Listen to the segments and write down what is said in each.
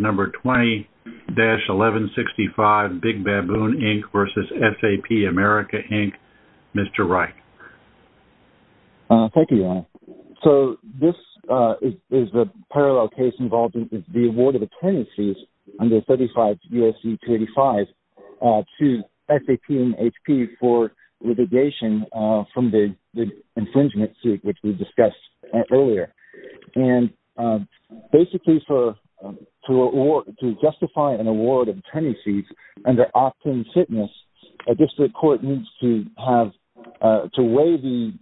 Number 20-1165 Big Baboon, Inc. v. SAP America, Inc. Mr. Wright. Thank you, Ron. So this is a parallel case involving the award of attorneys under 35 U.S.C. 285 to SAP and HP for litigation from the infringement suit which we discussed earlier. And basically to justify an award of attorney's fees under opt-in fitness, a district court needs to weigh the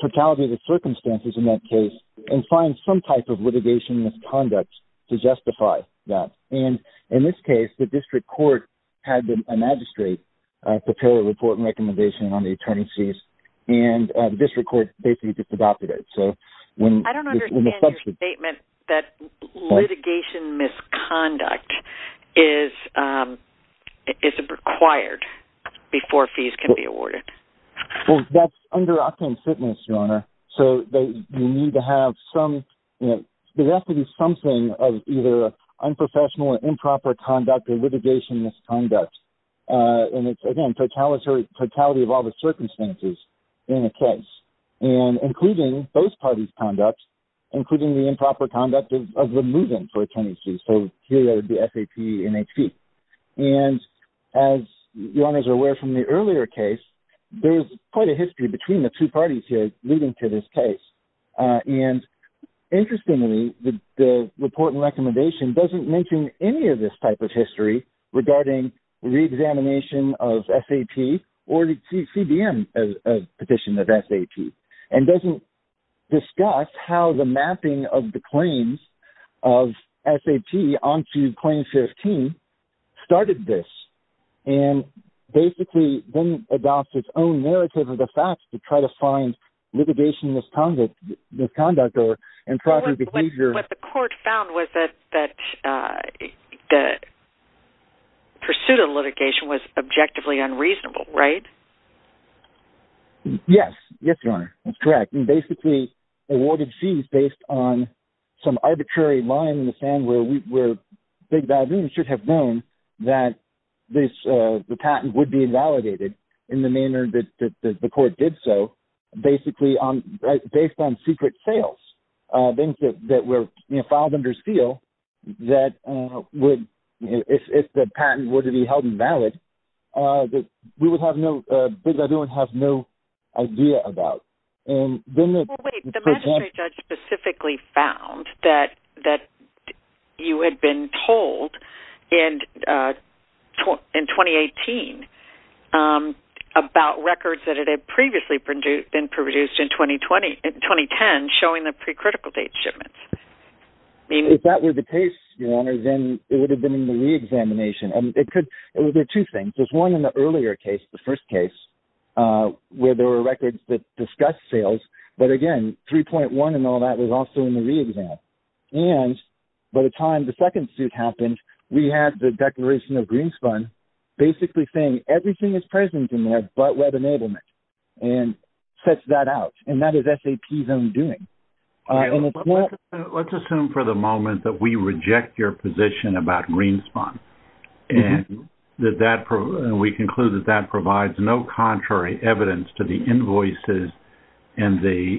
totality of the circumstances in that case and find some type of litigation misconduct to justify that. And in this case, the district court had a magistrate prepare a report and recommendation on the attorney's fees and the district court basically just adopted it. I don't understand your statement that litigation misconduct is required before fees can be awarded. Well, that's under opt-in fitness, Your Honor. So you need to have some – there has to be something of either unprofessional or improper conduct or litigation misconduct. And it's, again, totality of all the circumstances in a case. And including those parties' conduct, including the improper conduct of the move-in for attorney's fees. So here would be SAP and HP. And as Your Honors are aware from the earlier case, there is quite a history between the two parties here leading to this case. And interestingly, the report and recommendation doesn't mention any of this type of history regarding reexamination of SAP or the CDM petition of SAP. And doesn't discuss how the mapping of the claims of SAP onto Claim 15 started this. And basically then adopts its own narrative of the facts to try to find litigation misconduct or improper behavior. What the court found was that the pursuit of litigation was objectively unreasonable, right? Yes. Yes, Your Honor. That's correct. And basically awarded fees based on some arbitrary line in the sand where we should have known that the patent would be invalidated in the manner that the court did so, basically based on secret sales. Things that were filed under seal that if the patent were to be held invalid, we would have no idea about. The magistrate judge specifically found that you had been told in 2018 about records that had previously been produced in 2010 showing the pre-critical date shipments. If that were the case, Your Honor, then it would have been in the reexamination. There are two things. There's one in the earlier case, the first case, where there were records that discussed sales. But again, 3.1 and all that was also in the reexam. And by the time the second suit happened, we had the declaration of Greenspun basically saying everything is present in there but web enablement and sets that out. And that is SAP's own doing. Let's assume for the moment that we reject your position about Greenspun and we conclude that that provides no contrary evidence to the invoices and the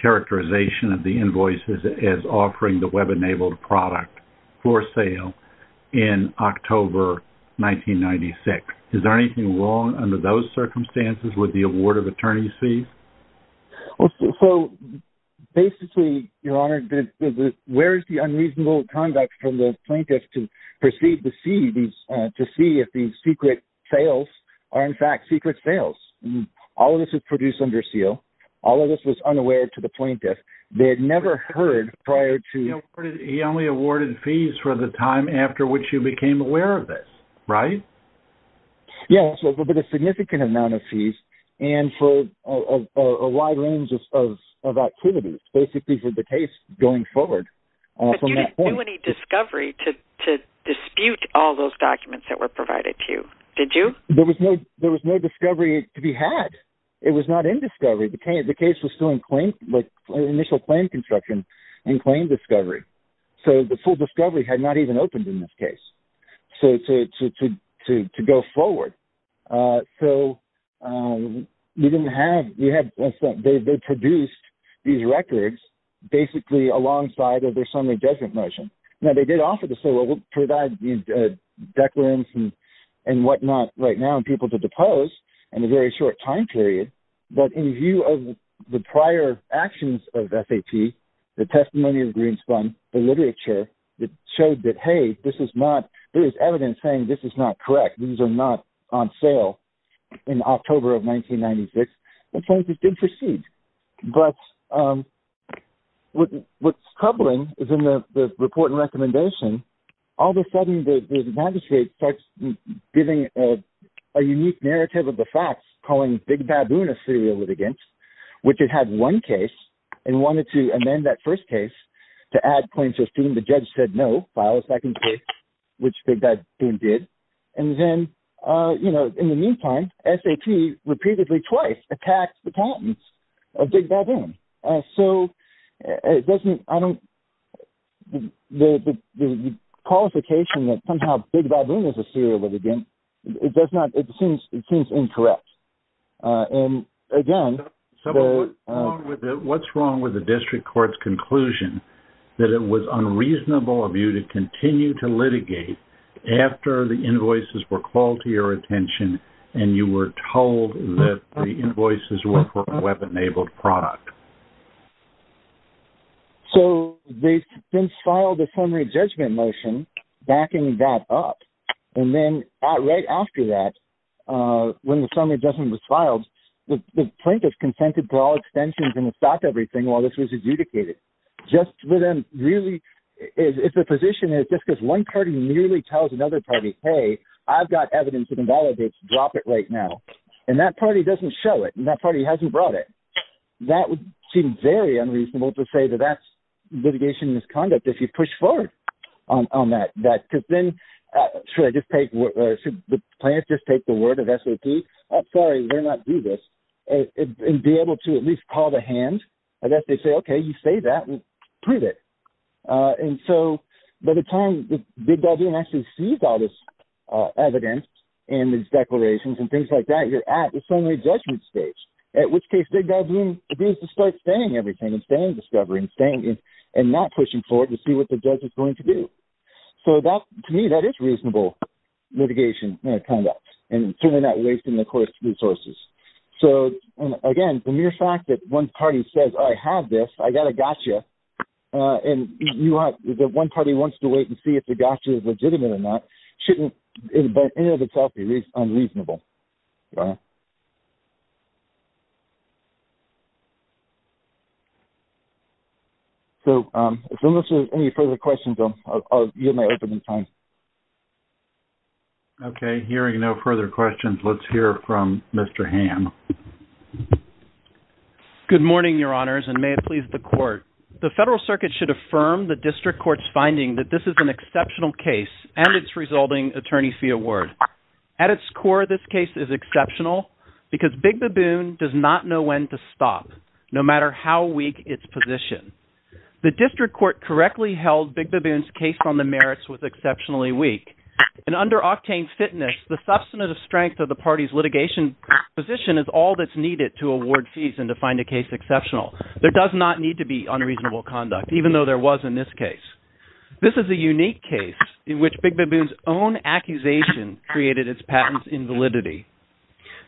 characterization of the invoices as offering the web-enabled product for sale in October 1996. Is there anything wrong under those circumstances with the award of attorney's fees? So basically, Your Honor, where is the unreasonable conduct from the plaintiff to proceed to see if these secret sales are in fact secret sales? All of this was produced under seal. All of this was unaware to the plaintiff. They had never heard prior to... He only awarded fees for the time after which you became aware of this, right? Yes, but a significant amount of fees. And for a wide range of activities basically for the case going forward. But you didn't do any discovery to dispute all those documents that were provided to you, did you? There was no discovery to be had. It was not in discovery. The case was still in initial claim construction in claim discovery. So the full discovery had not even opened in this case to go forward. So you didn't have... They produced these records basically alongside of their summary judgment motion. Now, they did offer to provide declarants and whatnot right now and people to depose in a very short time period. But in view of the prior actions of SAT, the testimony of Greenspun, the literature that showed that, hey, this is not... There is evidence saying this is not correct. These are not on sale in October of 1996. And claims did proceed. But what's troubling is in the report and recommendation, all of a sudden the magistrate starts giving a unique narrative of the facts, calling Big Baboon a serial litigant, which it had one case and wanted to amend that first case to add claims to a student. The judge said, no, file a second case, which Big Baboon did. And then, you know, in the meantime, SAT repeatedly twice attacked the patents of Big Baboon. So it doesn't... I don't... The qualification that somehow Big Baboon is a serial litigant, it does not... It seems incorrect. And again... What's wrong with the district court's conclusion that it was unreasonable of you to continue to litigate after the invoices were called to your attention and you were told that the invoices were for a web-enabled product? So they then filed a summary judgment motion backing that up. And then right after that, when the summary judgment was filed, the plaintiff consented to all extensions and stopped everything while this was adjudicated. Just to then really... If the position is just because one party merely tells another party, hey, I've got evidence that invalidates, drop it right now. And that party doesn't show it. And that party hasn't brought it. That would seem very unreasonable to say that that's litigation misconduct if you push forward on that. Because then, should I just take... Should the plaintiff just take the word of SOP? I'm sorry, we're not due this. And be able to at least call to hand. Unless they say, okay, you say that and prove it. And so by the time Big Baboon actually sees all this evidence and these declarations and things like that, you're at the summary judgment stage. At which case, Big Baboon begins to start saying everything and saying discovery and saying... And not pushing forward to see what the judge is going to do. So to me, that is reasonable litigation conduct. And certainly not wasting the court's resources. So, again, the mere fact that one party says, I have this, I've got a gotcha. And the one party wants to wait and see if the gotcha is legitimate or not, shouldn't in and of itself be unreasonable. So, unless there's any further questions, I'll yield my opening time. Okay, hearing no further questions, let's hear from Mr. Hamm. Good morning, your honors, and may it please the court. The federal circuit should affirm the district court's finding that this is an exceptional case and its resulting attorney fee award. At its core, this case is exceptional because Big Baboon does not know when to stop, no matter how weak its position. The district court correctly held Big Baboon's case on the merits was exceptionally weak. And under octane fitness, the substantive strength of the party's litigation position is all that's needed to award fees and to find a case exceptional. There does not need to be unreasonable conduct, even though there was in this case. This is a unique case in which Big Baboon's own accusation created its patents in validity.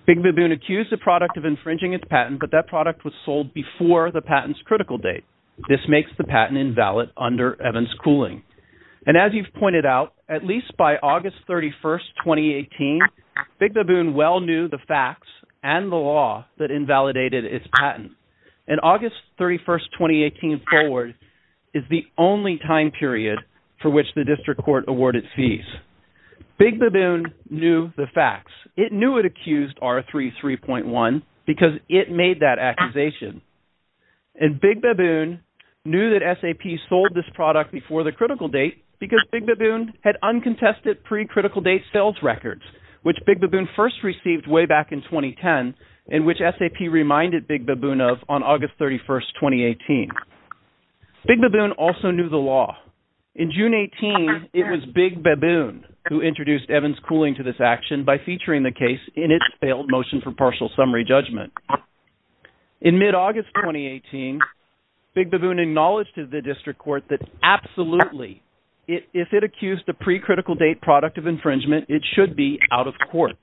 Big Baboon accused the product of infringing its patent, but that product was sold before the patents critical date. This makes the patent invalid under Evans cooling. And as you've pointed out, at least by August 31st, 2018, Big Baboon well knew the facts and the law that invalidated its patent. And August 31st, 2018 forward is the only time period for which the district court awarded fees. Big Baboon knew the facts. It knew it accused R33.1 because it made that accusation. And Big Baboon knew that SAP sold this product before the critical date because Big Baboon had uncontested pre-critical date sales records, which Big Baboon first received way back in 2010, and which SAP reminded Big Baboon of on August 31st, 2018. Big Baboon also knew the law. In June 18, it was Big Baboon who introduced Evans cooling to this action by featuring the case in its failed motion for partial summary judgment. In mid-August, 2018, Big Baboon acknowledged to the district court that absolutely, if it accused the pre-critical date product of infringement, it should be out of court.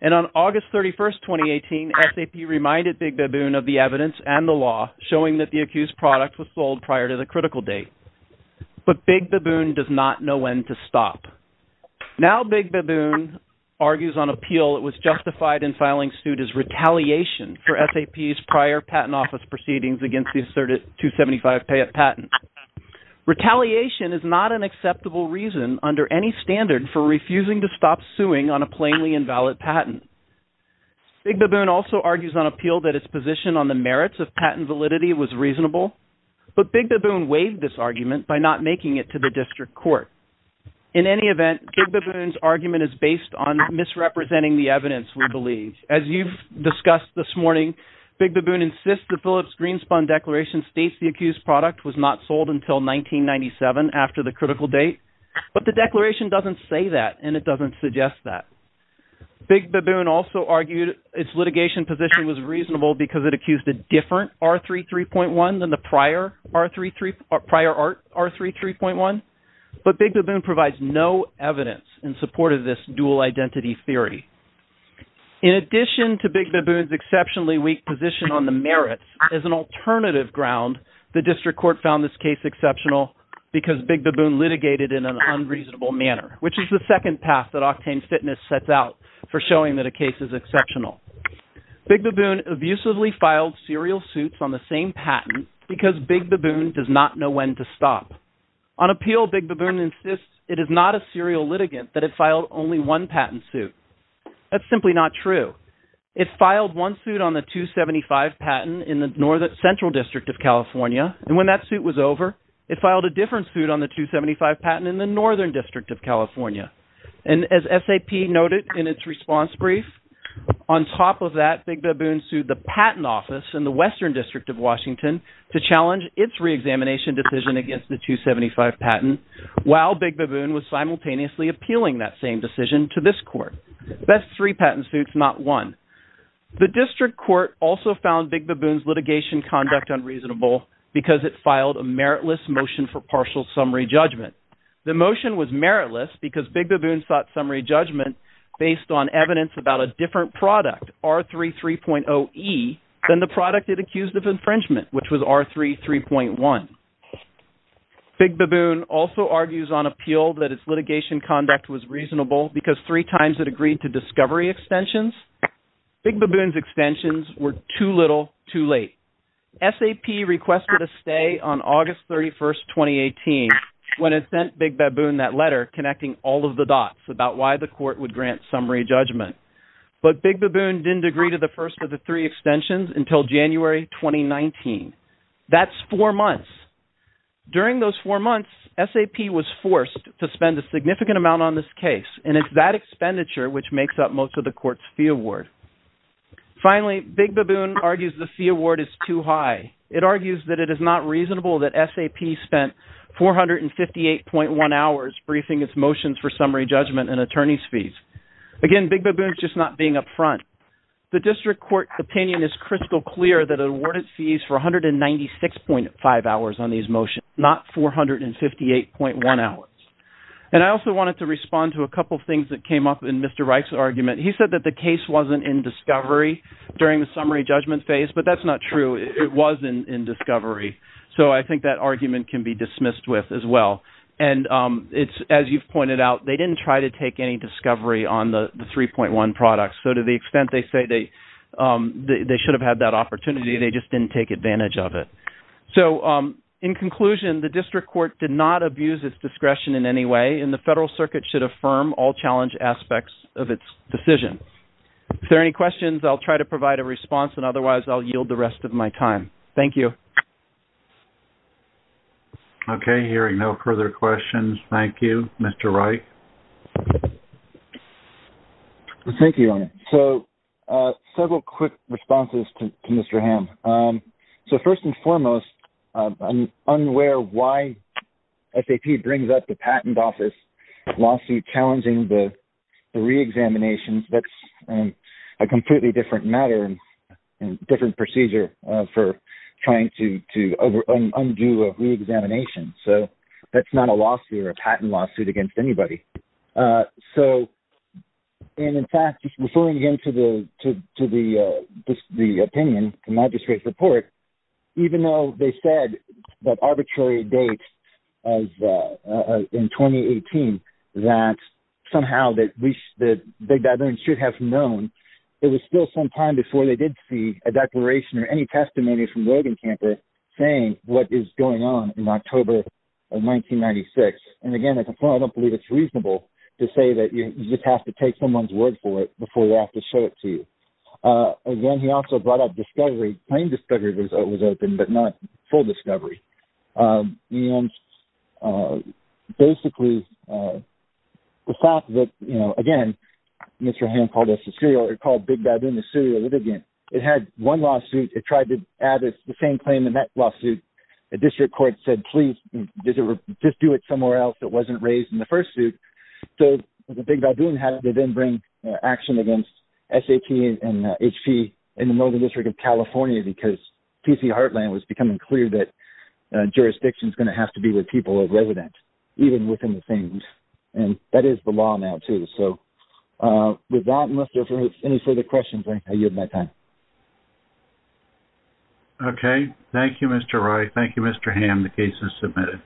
And on August 31st, 2018, SAP reminded Big Baboon of the evidence and the law showing that the accused product was sold prior to the critical date. But Big Baboon does not know when to stop. Now Big Baboon argues on appeal it was justified in filing suit as retaliation for SAP's prior patent office proceedings against the asserted 275 patent. Retaliation is not an acceptable reason under any standard for refusing to stop suing on a plainly invalid patent. Big Baboon also argues on appeal that its position on the merits of patent validity was reasonable. But Big Baboon waived this argument by not making it to the district court. In any event, Big Baboon's argument is based on misrepresenting the evidence, we believe. As you've discussed this morning, Big Baboon insists the Phillips Greenspun Declaration states the accused product was not sold until 1997 after the critical date. But the declaration doesn't say that and it doesn't suggest that. Big Baboon also argued its litigation position was reasonable because it accused a different R33.1 than the prior R33.1. But Big Baboon provides no evidence in support of this dual identity theory. In addition to Big Baboon's exceptionally weak position on the merits, as an alternative ground, the district court found this case exceptional because Big Baboon litigated in an unreasonable manner, which is the second path that Octane Fitness sets out for showing that a case is exceptional. Big Baboon abusively filed serial suits on the same patent because Big Baboon does not know when to stop. On appeal, Big Baboon insists it is not a serial litigant that it filed only one patent suit. That's simply not true. It filed one suit on the 275 patent in the central district of California and when that suit was over, it filed a different suit on the 275 patent in the northern district of California. And as SAP noted in its response brief, on top of that, Big Baboon sued the patent office in the western district of Washington to challenge its reexamination decision against the 275 patent while Big Baboon was simultaneously appealing that same decision to this court. That's three patent suits, not one. The district court also found Big Baboon's litigation conduct unreasonable because it filed a meritless motion for partial summary judgment. The motion was meritless because Big Baboon sought summary judgment based on evidence about a different product, R33.0E, than the product it accused of infringement, which was R33.1. Big Baboon also argues on appeal that its litigation conduct was reasonable because three times it agreed to discovery extensions. Big Baboon's extensions were too little, too late. SAP requested a stay on August 31, 2018 when it sent Big Baboon that letter connecting all of the dots about why the court would grant summary judgment. But Big Baboon didn't agree to the first of the three extensions until January 2019. That's four months. During those four months, SAP was forced to spend a significant amount on this case and it's that expenditure which makes up most of the court's fee award. Finally, Big Baboon argues the fee award is too high. It argues that it is not reasonable that SAP spent 458.1 hours briefing its motions for summary judgment and attorney's fees. Again, Big Baboon's just not being upfront. The district court opinion is crystal clear that it awarded fees for 196.5 hours on these motions, not 458.1 hours. And I also wanted to respond to a couple of things that came up in Mr. Reich's argument. He said that the case wasn't in discovery during the summary judgment phase, but that's not true. It was in discovery. So I think that argument can be dismissed with as well. And as you've pointed out, they didn't try to take any discovery on the 3.1 products. So to the extent they say they should have had that opportunity, they just didn't take advantage of it. So in conclusion, the district court did not abuse its discretion in any way. And the Federal Circuit should affirm all challenge aspects of its decision. If there are any questions, I'll try to provide a response. And otherwise, I'll yield the rest of my time. Thank you. Okay, hearing no further questions, thank you, Mr. Reich. Thank you. So several quick responses to Mr. Hamm. So first and foremost, I'm unaware why SAP brings up the patent office lawsuit challenging the reexamination. That's a completely different matter and different procedure for trying to undo a reexamination. So that's not a lawsuit or a patent lawsuit against anybody. So in fact, referring again to the opinion, the magistrate's report, even though they said that arbitrary dates in 2018, that somehow they should have known, there was still some time before they did see a declaration or any testimony from Rogen Camper saying what is going on in October of 1996. And again, I don't believe it's reasonable to say that you just have to take someone's word for it before they have to show it to you. Again, he also brought up discovery. Claim discovery was open, but not full discovery. And basically, the fact that, you know, again, Mr. Hamm called us a serial or called Big Dad in a serial litigant. It had one lawsuit. It tried to add the same claim in that lawsuit. The district court said, please, just do it somewhere else that wasn't raised in the first suit. So the Big Badoon had to then bring action against SAT and HP in the Northern District of California because T.C. Heartland was becoming clear that jurisdiction is going to have to be with people of residence, even within the same. And that is the law now, too. So with that, unless there are any further questions, I yield my time. Okay. Thank you, Mr. Wright. Thank you, Mr. Hamm. The case is submitted.